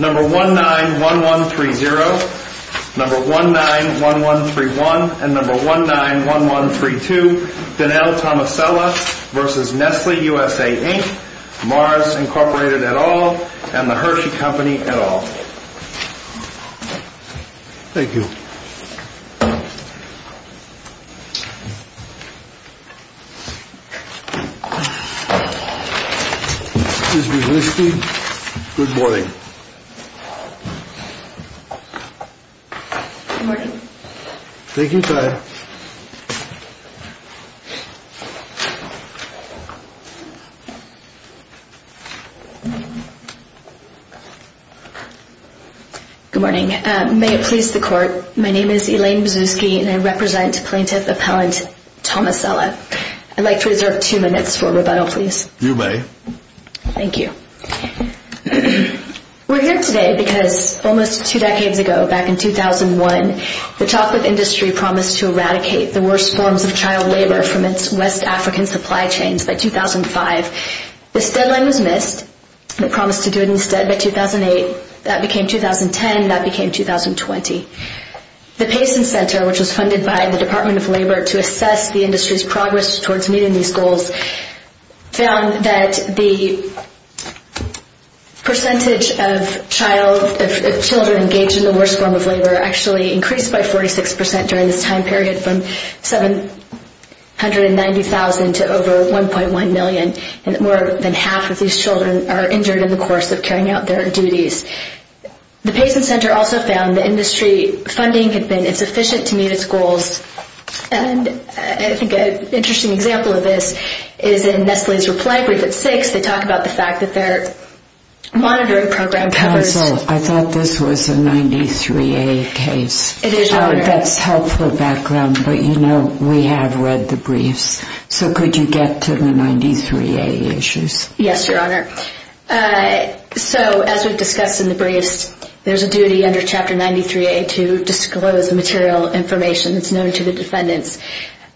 Number 191130, number 191131, and number 191132, Donnell Tomasella v. Nestle USA, Inc., Mars Incorporated et al., and the Hershey Company et al. Thank you. Ms. Brzezinski, good morning. Good morning. Thank you, sir. Good morning. May it please the Court, my name is Elaine Brzezinski and I represent Plaintiff Appellant Tomasella. I'd like to reserve two minutes for rebuttal, please. You may. Thank you. We're here today because almost two decades ago, back in 2001, the chocolate industry promised to eradicate the worst forms of child labor from its West African supply chains by 2005. This deadline was missed. It promised to do it instead by 2008. That became 2010. That became 2020. The Payson Center, which was funded by the Department of Labor to assess the industry's progress towards meeting these goals, found that the percentage of children engaged in the worst form of labor actually increased by 46 percent during this time period, from 790,000 to over 1.1 million, and that more than half of these children are injured in the course of carrying out their duties. The Payson Center also found that industry funding had been insufficient to meet its goals, and I think an interesting example of this is in Nestle's reply brief at six. They talk about the fact that their monitoring program covers- Counsel, I thought this was a 93A case. It is, Your Honor. That's helpful background, but, you know, we have read the briefs. So could you get to the 93A issues? Yes, Your Honor. So as we've discussed in the briefs, there's a duty under Chapter 93A to disclose the material information that's known to the defendants.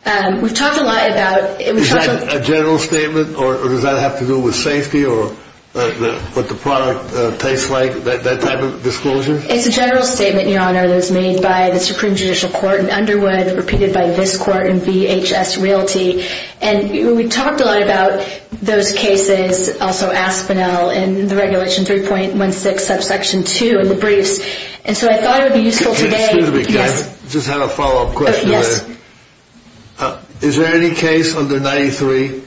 We've talked a lot about- Is that a general statement, or does that have to do with safety or what the product tastes like, that type of disclosure? It's a general statement, Your Honor, that was made by the Supreme Judicial Court in Underwood, repeated by this court in VHS Realty, and we talked a lot about those cases, also Aspinall in the Regulation 3.16 subsection 2 in the briefs, and so I thought it would be useful today- Excuse me, can I just have a follow-up question? Yes. Is there any case under 93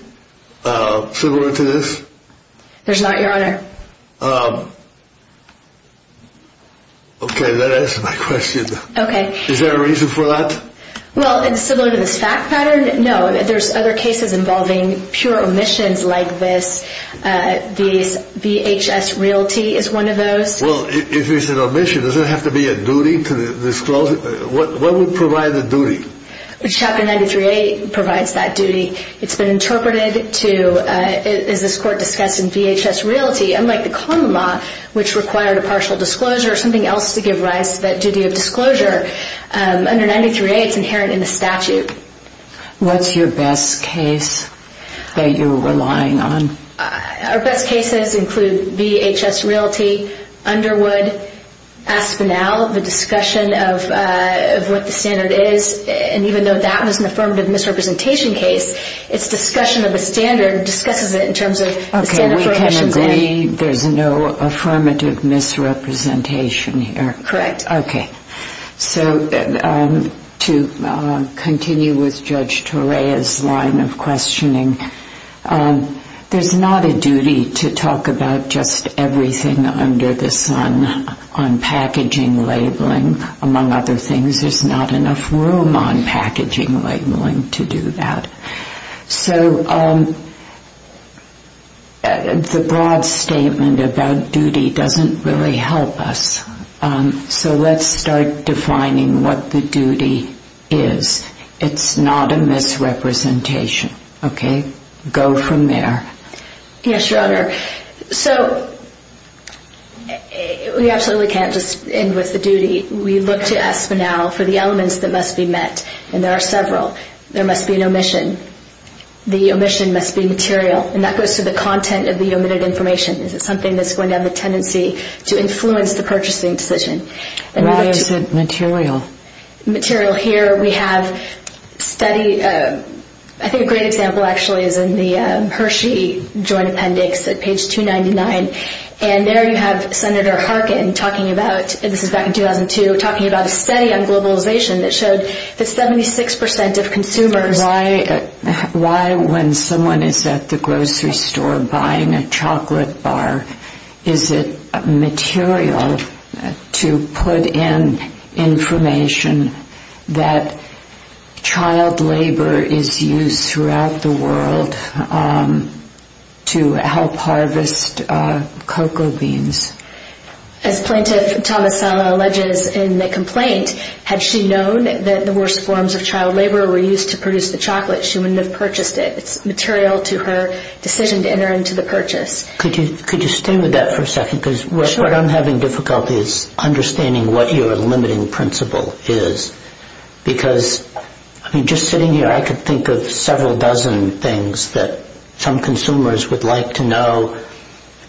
similar to this? There's not, Your Honor. Okay, that answers my question. Okay. Is there a reason for that? Well, is it similar to this fact pattern? No, there's other cases involving pure omissions like this. VHS Realty is one of those. Well, if it's an omission, does it have to be a duty to disclose it? What would provide the duty? Chapter 93A provides that duty. It's been interpreted to, as this court discussed in VHS Realty, unlike the common law, which required a partial disclosure or something else to give rise to that duty of disclosure, under 93A it's inherent in the statute. What's your best case that you're relying on? Our best cases include VHS Realty, Underwood, Aspinall, the discussion of what the standard is, and even though that was an affirmative misrepresentation case, its discussion of the standard discusses it in terms of the standard for omissions. Okay, we can agree there's no affirmative misrepresentation here. Correct. Okay. So to continue with Judge Torea's line of questioning, there's not a duty to talk about just everything under the sun on packaging, labeling, among other things. There's not enough room on packaging, labeling to do that. So the broad statement about duty doesn't really help us. So let's start defining what the duty is. It's not a misrepresentation. Okay? Go from there. Yes, Your Honor. So we absolutely can't just end with the duty. We look to Aspinall for the elements that must be met, and there are several. There must be an omission. The omission must be material, and that goes to the content of the omitted information. Is it something that's going to have a tendency to influence the purchasing decision? Why is it material? Material. Here we have a study. I think a great example actually is in the Hershey Joint Appendix at page 299, and there you have Senator Harkin talking about, and this is back in 2002, Why, when someone is at the grocery store buying a chocolate bar, is it material to put in information that child labor is used throughout the world to help harvest cocoa beans? As Plaintiff Thomas-Sala alleges in the complaint, had she known that the worst forms of child labor were used to produce the chocolate, she wouldn't have purchased it. It's material to her decision to enter into the purchase. Could you stay with that for a second? Sure. Because what I'm having difficulty is understanding what your limiting principle is, because, I mean, just sitting here I could think of several dozen things that some consumers would like to know.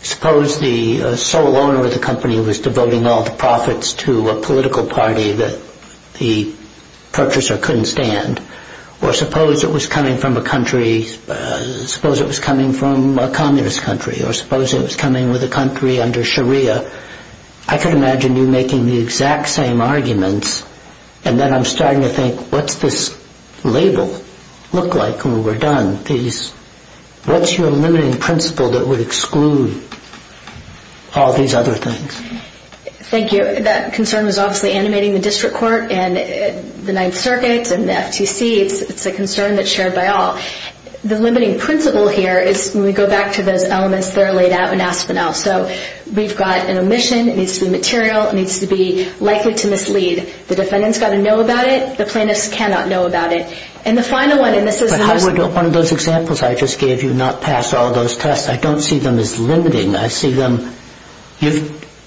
Suppose the sole owner of the company was devoting all the profits to a political party that the purchaser couldn't stand, or suppose it was coming from a communist country, or suppose it was coming with a country under Sharia. I could imagine you making the exact same arguments, and then I'm starting to think, what's this label look like when we're done? What's your limiting principle that would exclude all these other things? Thank you. That concern was obviously animating the district court and the Ninth Circuit and the FTC. It's a concern that's shared by all. The limiting principle here is, when we go back to those elements, they're laid out in Aspinall. So we've got an omission. It needs to be material. It needs to be likely to mislead. The defendant's got to know about it. The plaintiff's cannot know about it. But how would one of those examples I just gave you not pass all those tests? I don't see them as limiting. I see them,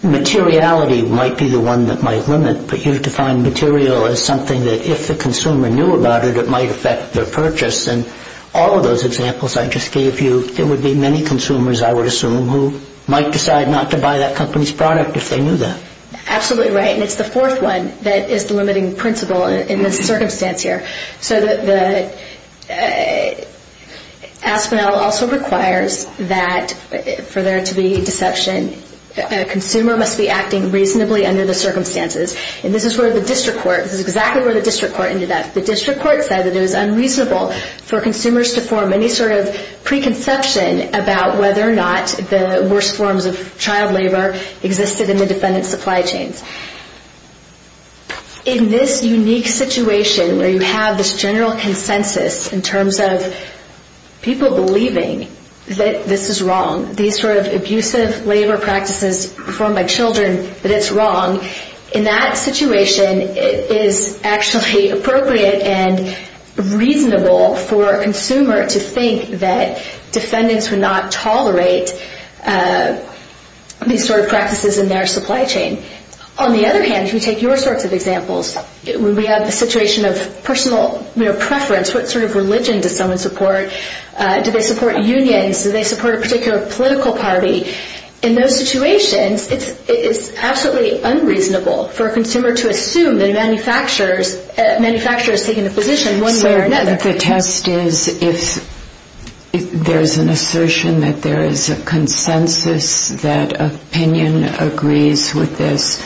materiality might be the one that might limit, but you've defined material as something that if the consumer knew about it, it might affect their purchase. And all of those examples I just gave you, there would be many consumers, I would assume, who might decide not to buy that company's product if they knew that. Absolutely right. And it's the fourth one that is the limiting principle in this circumstance here. So the Aspinall also requires that, for there to be deception, a consumer must be acting reasonably under the circumstances. And this is where the district court, this is exactly where the district court ended up. The district court said that it was unreasonable for consumers to form any sort of preconception about whether or not the worst forms of child labor existed in the defendant's supply chains. In this unique situation where you have this general consensus in terms of people believing that this is wrong, these sort of abusive labor practices performed by children, that it's wrong, in that situation it is actually appropriate and reasonable for a consumer to think that defendants would not tolerate these sort of practices in their supply chain. On the other hand, if we take your sorts of examples, when we have the situation of personal preference, what sort of religion does someone support? Do they support unions? Do they support a particular political party? In those situations, it's absolutely unreasonable for a consumer to assume that a manufacturer has taken a position one way or another. So the test is if there's an assertion that there is a consensus, that opinion agrees with this,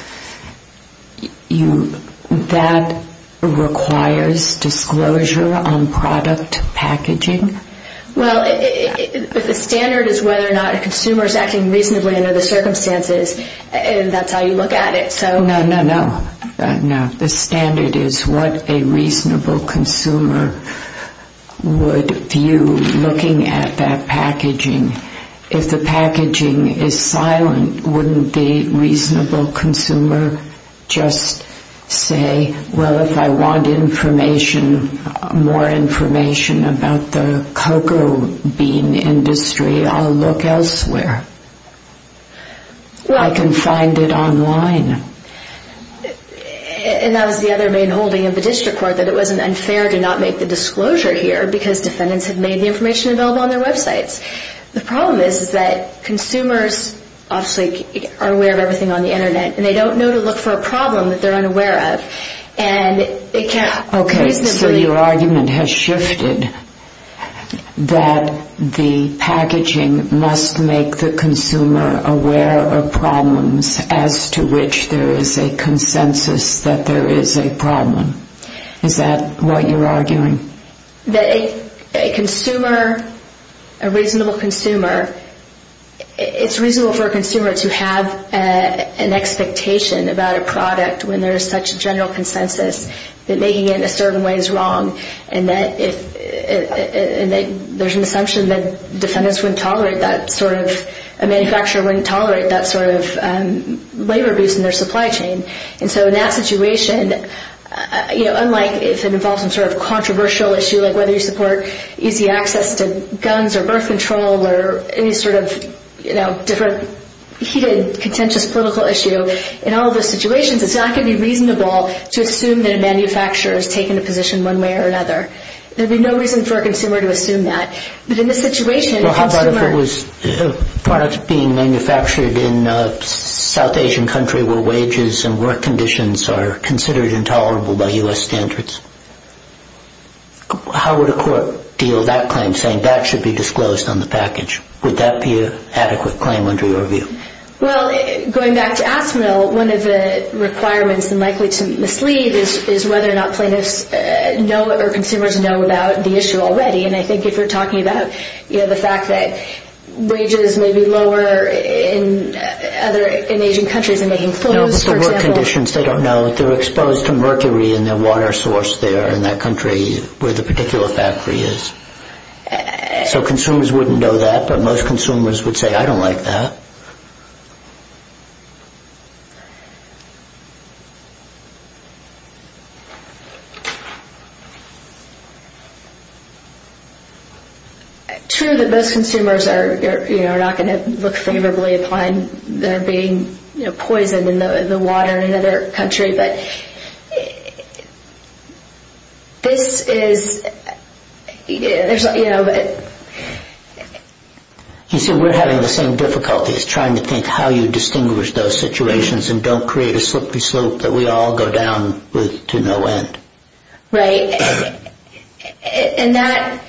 that requires disclosure on product packaging? Well, the standard is whether or not a consumer is acting reasonably under the circumstances, and that's how you look at it. No, no, no. The standard is what a reasonable consumer would view looking at that packaging. If the packaging is silent, wouldn't the reasonable consumer just say, well, if I want information, more information about the cocoa bean industry, I'll look elsewhere? I can find it online. And that was the other main holding of the district court, that it wasn't unfair to not make the disclosure here because defendants have made the information available on their websites. The problem is that consumers obviously are aware of everything on the Internet, and they don't know to look for a problem that they're unaware of. Okay, so your argument has shifted that the packaging must make the consumer aware of problems as to which there is a consensus that there is a problem. Is that what you're arguing? That a consumer, a reasonable consumer, it's reasonable for a consumer to have an expectation about a product when there is such a general consensus that making it in a certain way is wrong, and that there's an assumption that defendants wouldn't tolerate that sort of, a manufacturer wouldn't tolerate that sort of labor abuse in their supply chain. And so in that situation, unlike if it involves some sort of controversial issue, like whether you support easy access to guns or birth control or any sort of heated, contentious political issue, in all of those situations it's not going to be reasonable to assume that a manufacturer has taken a position one way or another. There would be no reason for a consumer to assume that. But in this situation, a consumer... are considered intolerable by U.S. standards. How would a court deal that claim, saying that should be disclosed on the package? Would that be an adequate claim under your view? Well, going back to Asimov, one of the requirements and likely to mislead is whether or not plaintiffs know or consumers know about the issue already. And I think if you're talking about the fact that wages may be lower in Asian countries in making clothes, for example... No, but the work conditions, they don't know. They're exposed to mercury in their water source there in that country where the particular factory is. So consumers wouldn't know that, but most consumers would say, I don't like that. True that most consumers are not going to look favorably upon their being poisoned in the water in another country, but this is... You see, we're having the same difficulty as trying to think how you distinguish those situations and don't create a slippery slope that we all go down with. Right. And that...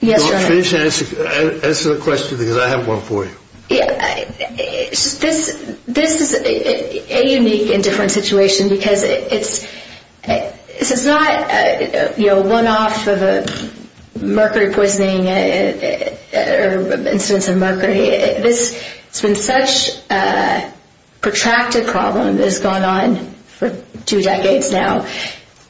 Yes, John. Answer the question because I have one for you. This is a unique and different situation because it's... This is not one-off of a mercury poisoning or incidence of mercury. It's been such a protracted problem that has gone on for two decades now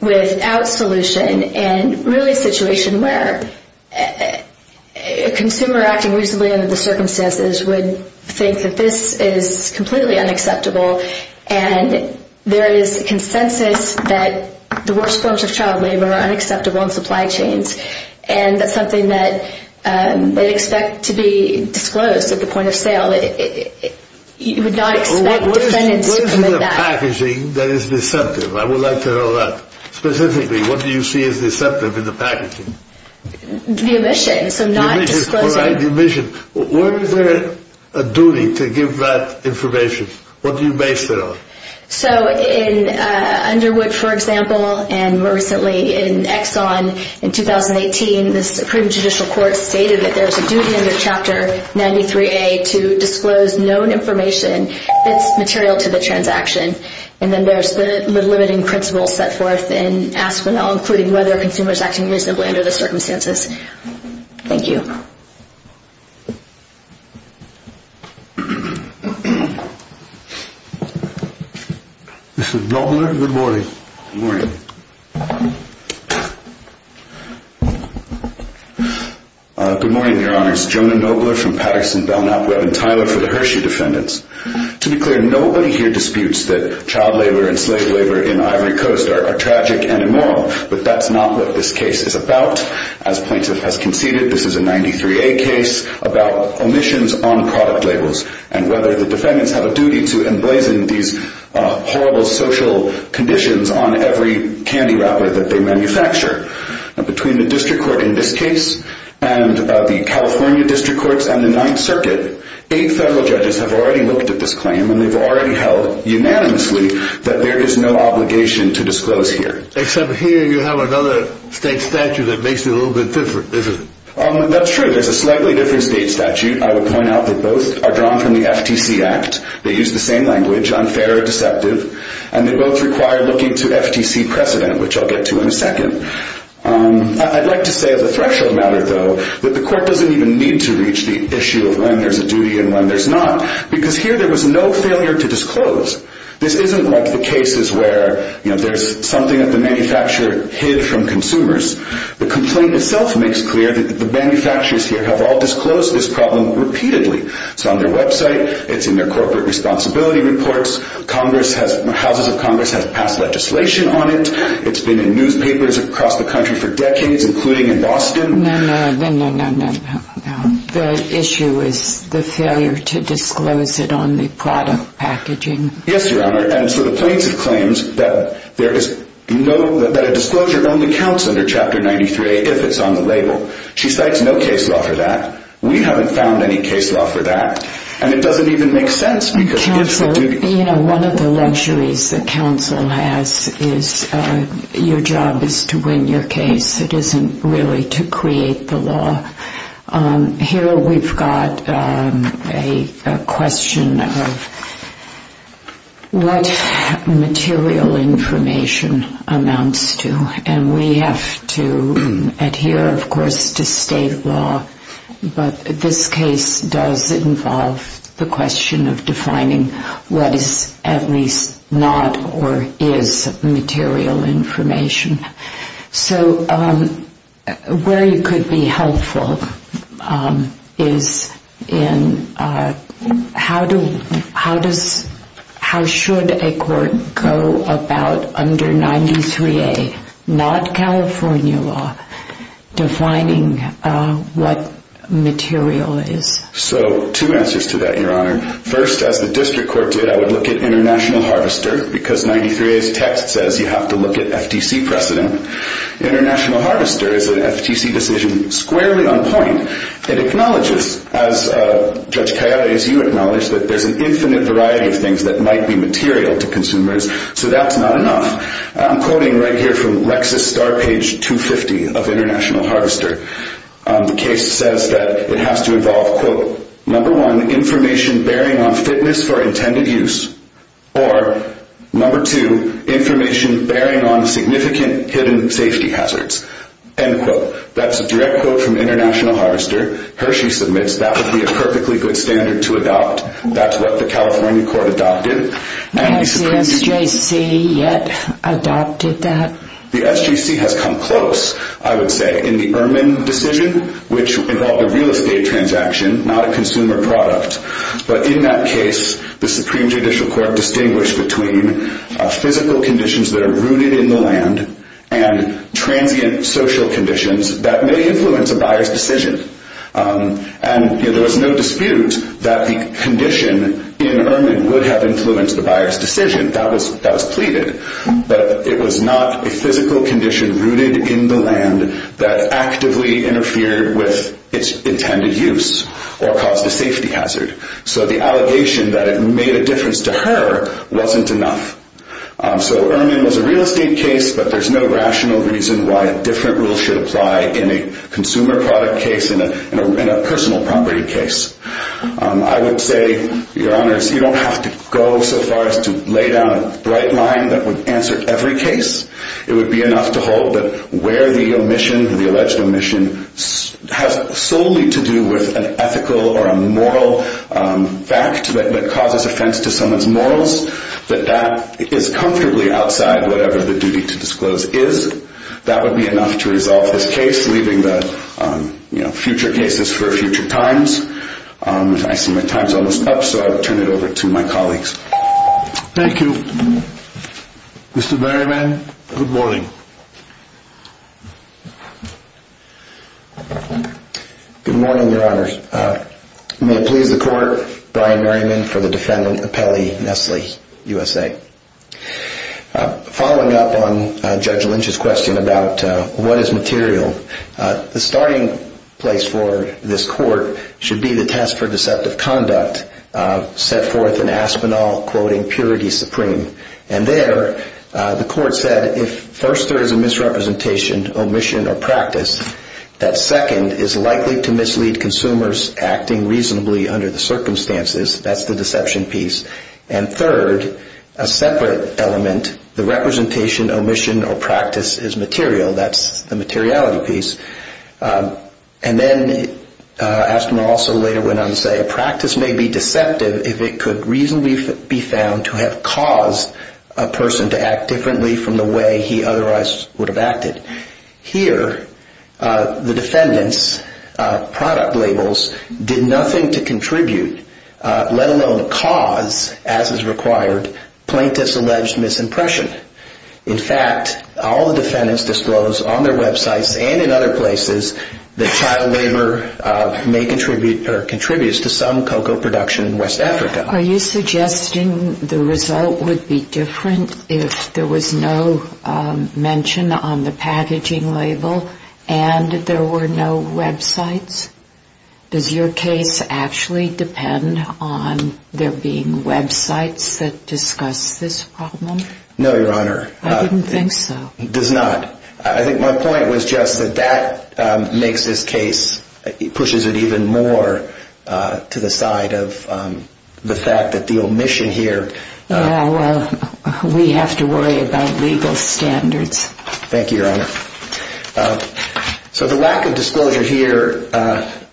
without solution and really a situation where a consumer acting reasonably under the circumstances would think that this is completely unacceptable and there is consensus that the worst forms of child labor are unacceptable in supply chains. And that's something that they'd expect to be disclosed at the point of sale. You would not expect defendants to commit that. What is in the packaging that is deceptive? I would like to know that. Specifically, what do you see as deceptive in the packaging? The omission, so not disclosing. The omission. Where is there a duty to give that information? What do you base it on? In Underwood, for example, and more recently in Exxon in 2018, the Supreme Judicial Court stated that there's a duty under Chapter 93A to disclose known information that's material to the transaction. And then there's the limiting principles set forth in Aspinall, including whether a consumer is acting reasonably under the circumstances. Thank you. Mr. Nobler, good morning. Good morning. Good morning, Your Honors. Jonah Nobler from Patterson, Belknap, Webb & Tyler for the Hershey defendants. To be clear, nobody here disputes that child labor and slave labor in Ivory Coast are tragic and immoral, but that's not what this case is about. As plaintiff has conceded, this is a 93A case about omissions on product labels and whether the defendants have a duty to emblazon these horrible social conditions on every candy wrapper that they manufacture. Between the district court in this case and the California district courts and the Ninth Circuit, eight federal judges have already looked at this claim and they've already held unanimously that there is no obligation to disclose here. Except here you have another state statute that makes it a little bit different. That's true. There's a slightly different state statute. I would point out that both are drawn from the FTC Act. They use the same language, unfair or deceptive, and they both require looking to FTC precedent, which I'll get to in a second. I'd like to say as a threshold matter, though, that the court doesn't even need to reach the issue of when there's a duty and when there's not because here there was no failure to disclose. This isn't like the cases where there's something that the manufacturer hid from consumers. The complaint itself makes clear that the manufacturers here have all disclosed this problem repeatedly. It's on their website. It's in their corporate responsibility reports. Houses of Congress have passed legislation on it. It's been in newspapers across the country for decades, including in Boston. No, no, no, no, no. The issue is the failure to disclose it on the product packaging. Yes, Your Honor. And so the plaintiff claims that a disclosure only counts under Chapter 93 if it's on the label. She cites no case law for that. We haven't found any case law for that. And it doesn't even make sense because it's a duty. You know, one of the luxuries that counsel has is your job is to win your case. It isn't really to create the law. Here we've got a question of what material information amounts to. And we have to adhere, of course, to state law. But this case does involve the question of defining what is at least not or is material information. So where you could be helpful is in how should a court go about under 93A, not California law, defining what material is. So two answers to that, Your Honor. First, as the district court did, I would look at International Harvester because 93A's text says you have to look at FTC precedent. International Harvester is an FTC decision squarely on point. It acknowledges, as Judge Cayares, you acknowledge, that there's an infinite variety of things that might be material to consumers. So that's not enough. I'm quoting right here from Lexis Star, page 250 of International Harvester. The case says that it has to involve, quote, number one, information bearing on fitness for intended use, or number two, information bearing on significant hidden safety hazards, end quote. That's a direct quote from International Harvester. Hershey submits that would be a perfectly good standard to adopt. That's what the California court adopted. Has the SJC yet adopted that? The SJC has come close, I would say. In the Ehrman decision, which involved a real estate transaction, not a consumer product. But in that case, the Supreme Judicial Court distinguished between physical conditions that are rooted in the land and transient social conditions that may influence a buyer's decision. And there was no dispute that the condition in Ehrman would have influenced the buyer's decision. That was pleaded. But it was not a physical condition rooted in the land that actively interfered with its intended use or caused a safety hazard. So the allegation that it made a difference to her wasn't enough. So Ehrman was a real estate case, but there's no rational reason why a different rule should apply in a consumer product case, in a personal property case. I would say, Your Honors, you don't have to go so far as to lay down a bright line that would answer every case. It would be enough to hold that where the omission, the alleged omission, has solely to do with an ethical or a moral fact that causes offense to someone's morals, that that is comfortably outside whatever the duty to disclose is. That would be enough to resolve this case, leaving the future cases for future times. I see my time's almost up, so I'll turn it over to my colleagues. Thank you. Mr. Merriman, good morning. Good morning, Your Honors. May it please the Court, Brian Merriman for the defendant, Apelli Nestle, USA. Following up on Judge Lynch's question about what is material, the starting place for this Court should be the test for deceptive conduct set forth in Aspinall, quoting Purity Supreme. And there, the Court said, if first there is a misrepresentation, omission, or practice, that second is likely to mislead consumers acting reasonably under the circumstances. That's the deception piece. And third, a separate element, the representation, omission, or practice is material. That's the materiality piece. And then Aspinall also later went on to say a practice may be deceptive if it could reasonably be found to have caused a person to act differently from the way he otherwise would have acted. Here, the defendants' product labels did nothing to contribute, let alone cause, as is required, plaintiff's alleged misimpression. In fact, all the defendants disclose on their websites and in other places that child labor may contribute or contributes to some cocoa production in West Africa. Are you suggesting the result would be different if there was no mention on the packaging label and there were no websites? Does your case actually depend on there being websites that discuss this problem? No, Your Honor. I didn't think so. It does not. I think my point was just that that makes this case, pushes it even more to the side of the fact that the omission here. Yeah, well, we have to worry about legal standards. Thank you, Your Honor. So the lack of disclosure here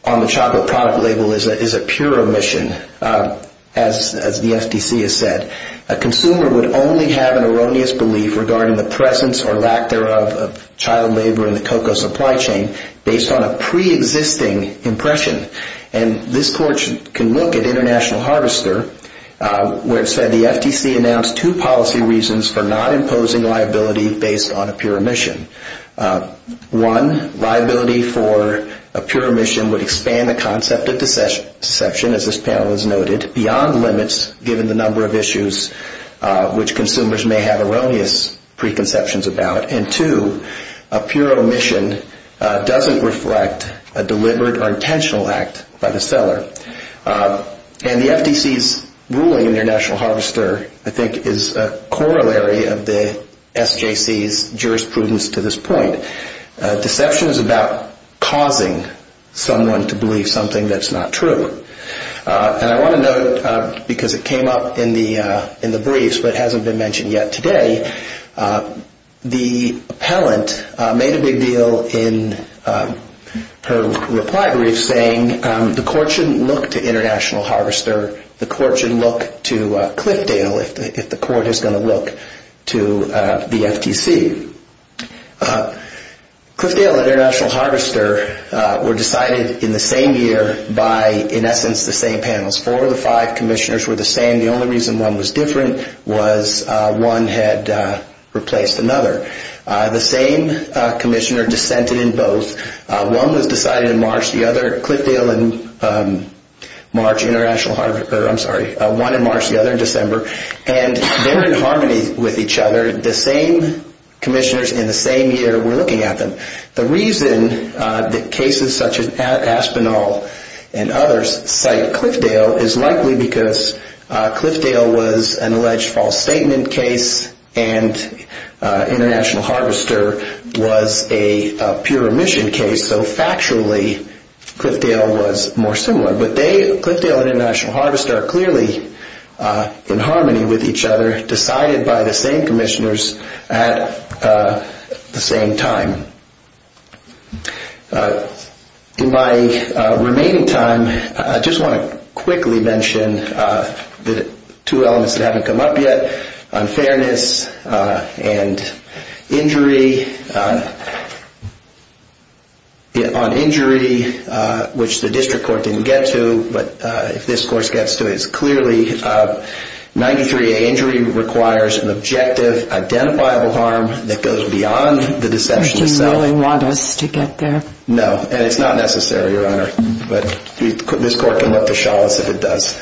on the chocolate product label is a pure omission, as the FTC has said. A consumer would only have an erroneous belief regarding the presence or lack thereof of child labor in the cocoa supply chain based on a preexisting impression. And this court can look at International Harvester, where it said the FTC announced two policy reasons for not imposing liability based on a pure omission. One, liability for a pure omission would expand the concept of deception, as this panel has noted, beyond limits given the number of issues which consumers may have erroneous preconceptions about. And two, a pure omission doesn't reflect a deliberate or intentional act by the seller. And the FTC's ruling in International Harvester, I think, is a corollary of the SJC's jurisprudence to this point. Deception is about causing someone to believe something that's not true. And I want to note, because it came up in the briefs but hasn't been mentioned yet today, the appellant made a big deal in her reply brief saying the court shouldn't look to International Harvester, the court should look to Cliffdale if the court is going to look to the FTC. Cliffdale and International Harvester were decided in the same year by, in essence, the same panels. Four of the five commissioners were the same. The only reason one was different was one had replaced another. The same commissioner dissented in both. One was decided in March, the other, Cliffdale in March, International Harvester, I'm sorry, one in March, the other in December. And they're in harmony with each other. The same commissioners in the same year were looking at them. The reason that cases such as Aspinall and others cite Cliffdale is likely because Cliffdale was an alleged false statement case and International Harvester was a pure omission case. So, factually, Cliffdale was more similar. But Cliffdale and International Harvester are clearly in harmony with each other, decided by the same commissioners at the same time. In my remaining time, I just want to quickly mention the two elements that haven't come up yet, unfairness and injury. On injury, which the district court didn't get to, but if this court gets to it, it's clearly 93A, injury requires an objective, identifiable harm that goes beyond the deception itself. Do you really want us to get there? No, and it's not necessary, Your Honor. But this court can look to Chalice if it does.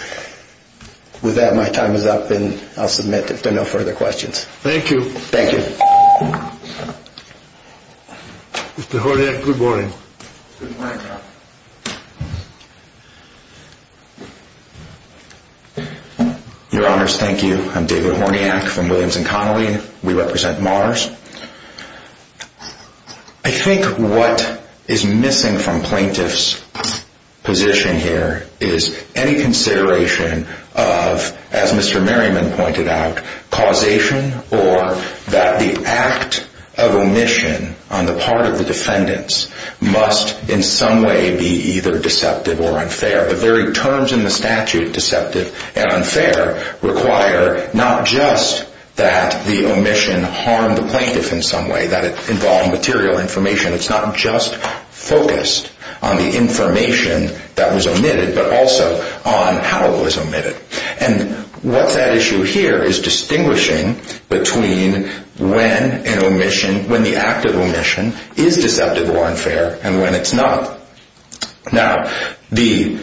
With that, my time is up and I'll submit if there are no further questions. Thank you. Thank you. Mr. Horniak, good morning. Good morning, Your Honor. Your Honors, thank you. I'm David Horniak from Williams and Connolly. We represent Mars. I think what is missing from plaintiff's position here is any consideration of, as Mr. Merriman pointed out, causation or that the act of omission on the part of the defendants must in some way be either deceptive or unfair. The very terms in the statute, deceptive and unfair, require not just that the omission harmed the plaintiff in some way, that it involved material information. It's not just focused on the information that was omitted, but also on how it was omitted. And what that issue here is distinguishing between when an omission, when the act of omission is deceptive or unfair and when it's not. Now, the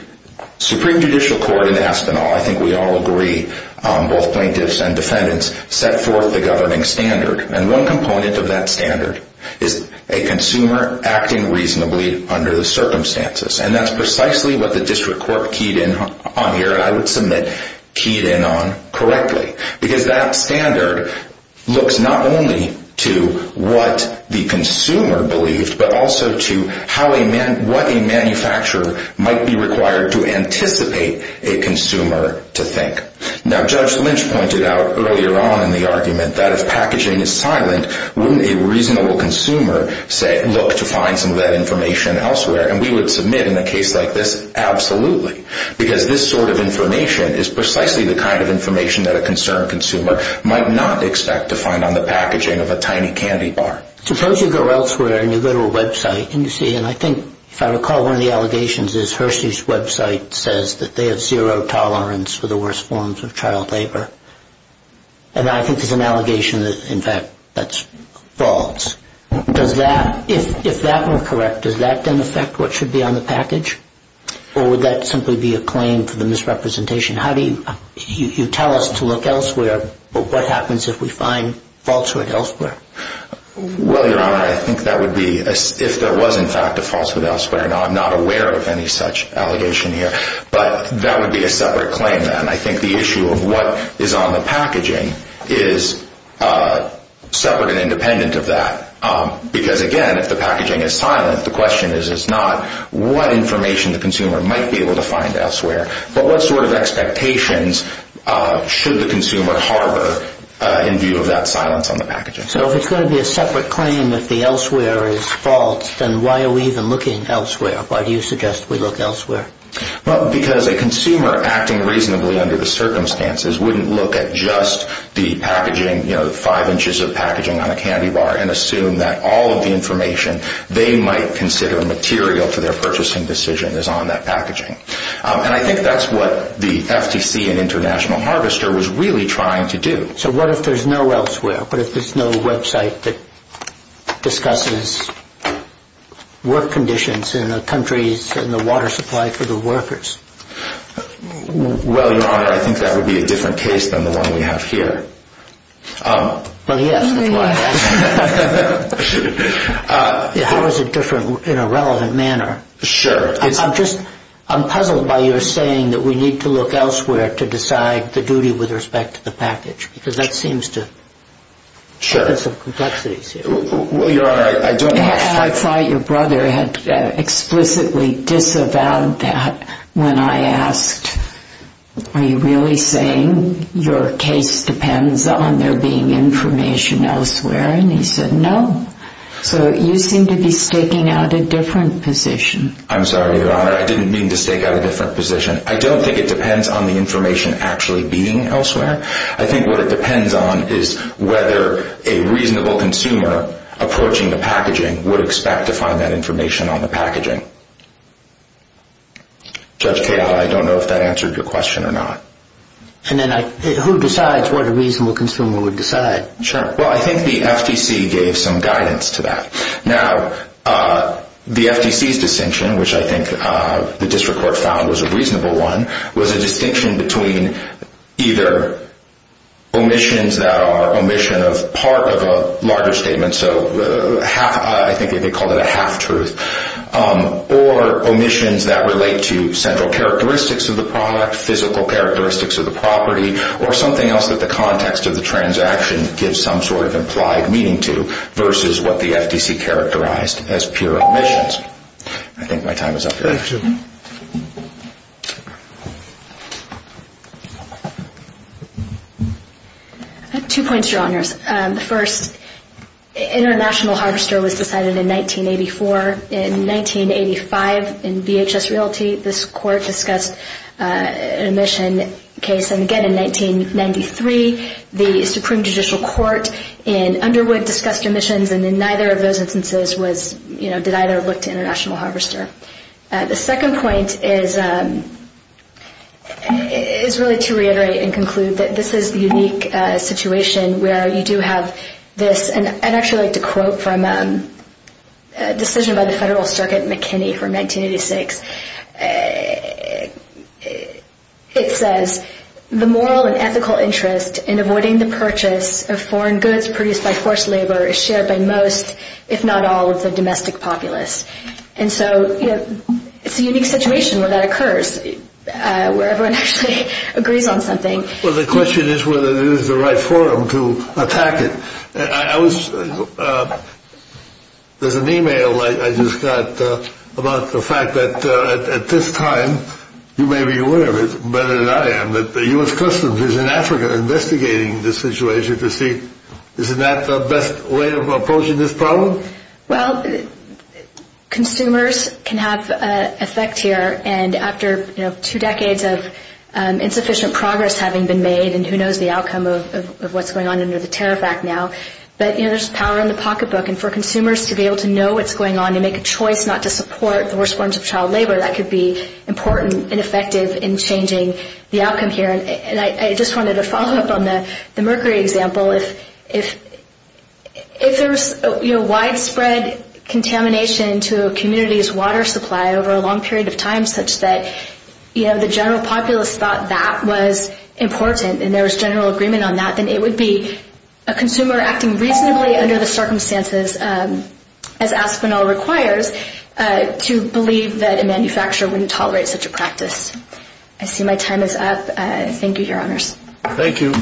Supreme Judicial Court in Aspinall, I think we all agree, both plaintiffs and defendants, set forth the governing standard. And one component of that standard is a consumer acting reasonably under the circumstances. And that's precisely what the district court keyed in on here, and I would submit keyed in on correctly. Because that standard looks not only to what the consumer believed, but also to what a manufacturer might be required to anticipate a consumer to think. Now, Judge Lynch pointed out earlier on in the argument that if packaging is silent, wouldn't a reasonable consumer look to find some of that information elsewhere? And we would submit in a case like this, absolutely. Because this sort of information is precisely the kind of information that a concerned consumer might not expect to find on the packaging of a tiny candy bar. Suppose you go elsewhere and you go to a website and you see, and I think, if I recall, one of the allegations is Hersey's website says that they have zero tolerance for the worst forms of child labor. And I think there's an allegation that, in fact, that's false. Does that, if that were correct, does that then affect what should be on the package? Or would that simply be a claim for the misrepresentation? You tell us to look elsewhere, but what happens if we find falsehood elsewhere? Well, Your Honor, I think that would be if there was, in fact, a falsehood elsewhere. Now, I'm not aware of any such allegation here, but that would be a separate claim then. I think the issue of what is on the packaging is separate and independent of that. Because, again, if the packaging is silent, the question is not what information the consumer might be able to find elsewhere, but what sort of expectations should the consumer harbor in view of that silence on the packaging. So if it's going to be a separate claim if the elsewhere is false, then why are we even looking elsewhere? Why do you suggest we look elsewhere? Well, because a consumer acting reasonably under the circumstances wouldn't look at just the packaging, you know, five inches of packaging on a candy bar and assume that all of the information they might consider material for their purchasing decision is on that packaging. And I think that's what the FTC and International Harvester was really trying to do. So what if there's no elsewhere? What if there's no website that discusses work conditions in the countries and the water supply for the workers? Well, Your Honor, I think that would be a different case than the one we have here. Well, yes, that's why I asked. How is it different in a relevant manner? Sure. I'm puzzled by your saying that we need to look elsewhere to decide the duty with respect to the package, because that seems to have some complexities here. I thought your brother had explicitly disavowed that when I asked, are you really saying your case depends on there being information elsewhere? And he said no. So you seem to be staking out a different position. I'm sorry, Your Honor. I didn't mean to stake out a different position. I don't think it depends on the information actually being elsewhere. I think what it depends on is whether a reasonable consumer approaching the packaging would expect to find that information on the packaging. Judge Cahill, I don't know if that answered your question or not. And then who decides what a reasonable consumer would decide? Sure. Well, I think the FTC gave some guidance to that. Now, the FTC's distinction, which I think the district court found was a reasonable one, was a distinction between either omissions that are omission of part of a larger statement, so I think they called it a half-truth, or omissions that relate to central characteristics of the product, physical characteristics of the property, or something else that the context of the transaction gives some sort of implied meaning to versus what the FTC characterized as pure omissions. I think my time is up here. Thank you. Two points, Your Honors. The first, International Harvester was decided in 1984. In 1985, in VHS Realty, this court discussed an omission case. And again, in 1993, the Supreme Judicial Court in Underwood discussed omissions, and in neither of those instances did either look to International Harvester. The second point is really to reiterate and conclude that this is a unique situation where you do have this. And I'd actually like to quote from a decision by the Federal Circuit McKinney from 1986. It says, The moral and ethical interest in avoiding the purchase of foreign goods produced by forced labor is shared by most, if not all, of the domestic populace. And so it's a unique situation where that occurs, where everyone actually agrees on something. Well, the question is whether it is the right forum to attack it. There's an e-mail I just got about the fact that at this time, you may be aware of it better than I am, that the U.S. Customs is in Africa investigating this situation to see is that the best way of approaching this problem? Well, consumers can have an effect here. And after two decades of insufficient progress having been made, and who knows the outcome of what's going on under the Tariff Act now, but there's power in the pocketbook. And for consumers to be able to know what's going on and make a choice not to support the worst forms of child labor, that could be important and effective in changing the outcome here. And I just wanted to follow up on the mercury example. If there's widespread contamination to a community's water supply over a long period of time such that the general populace thought that was important and there was general agreement on that, then it would be a consumer acting reasonably under the circumstances, as Aspinall requires, to believe that a manufacturer wouldn't tolerate such a practice. I see my time is up. Thank you, Your Honors. Thank you.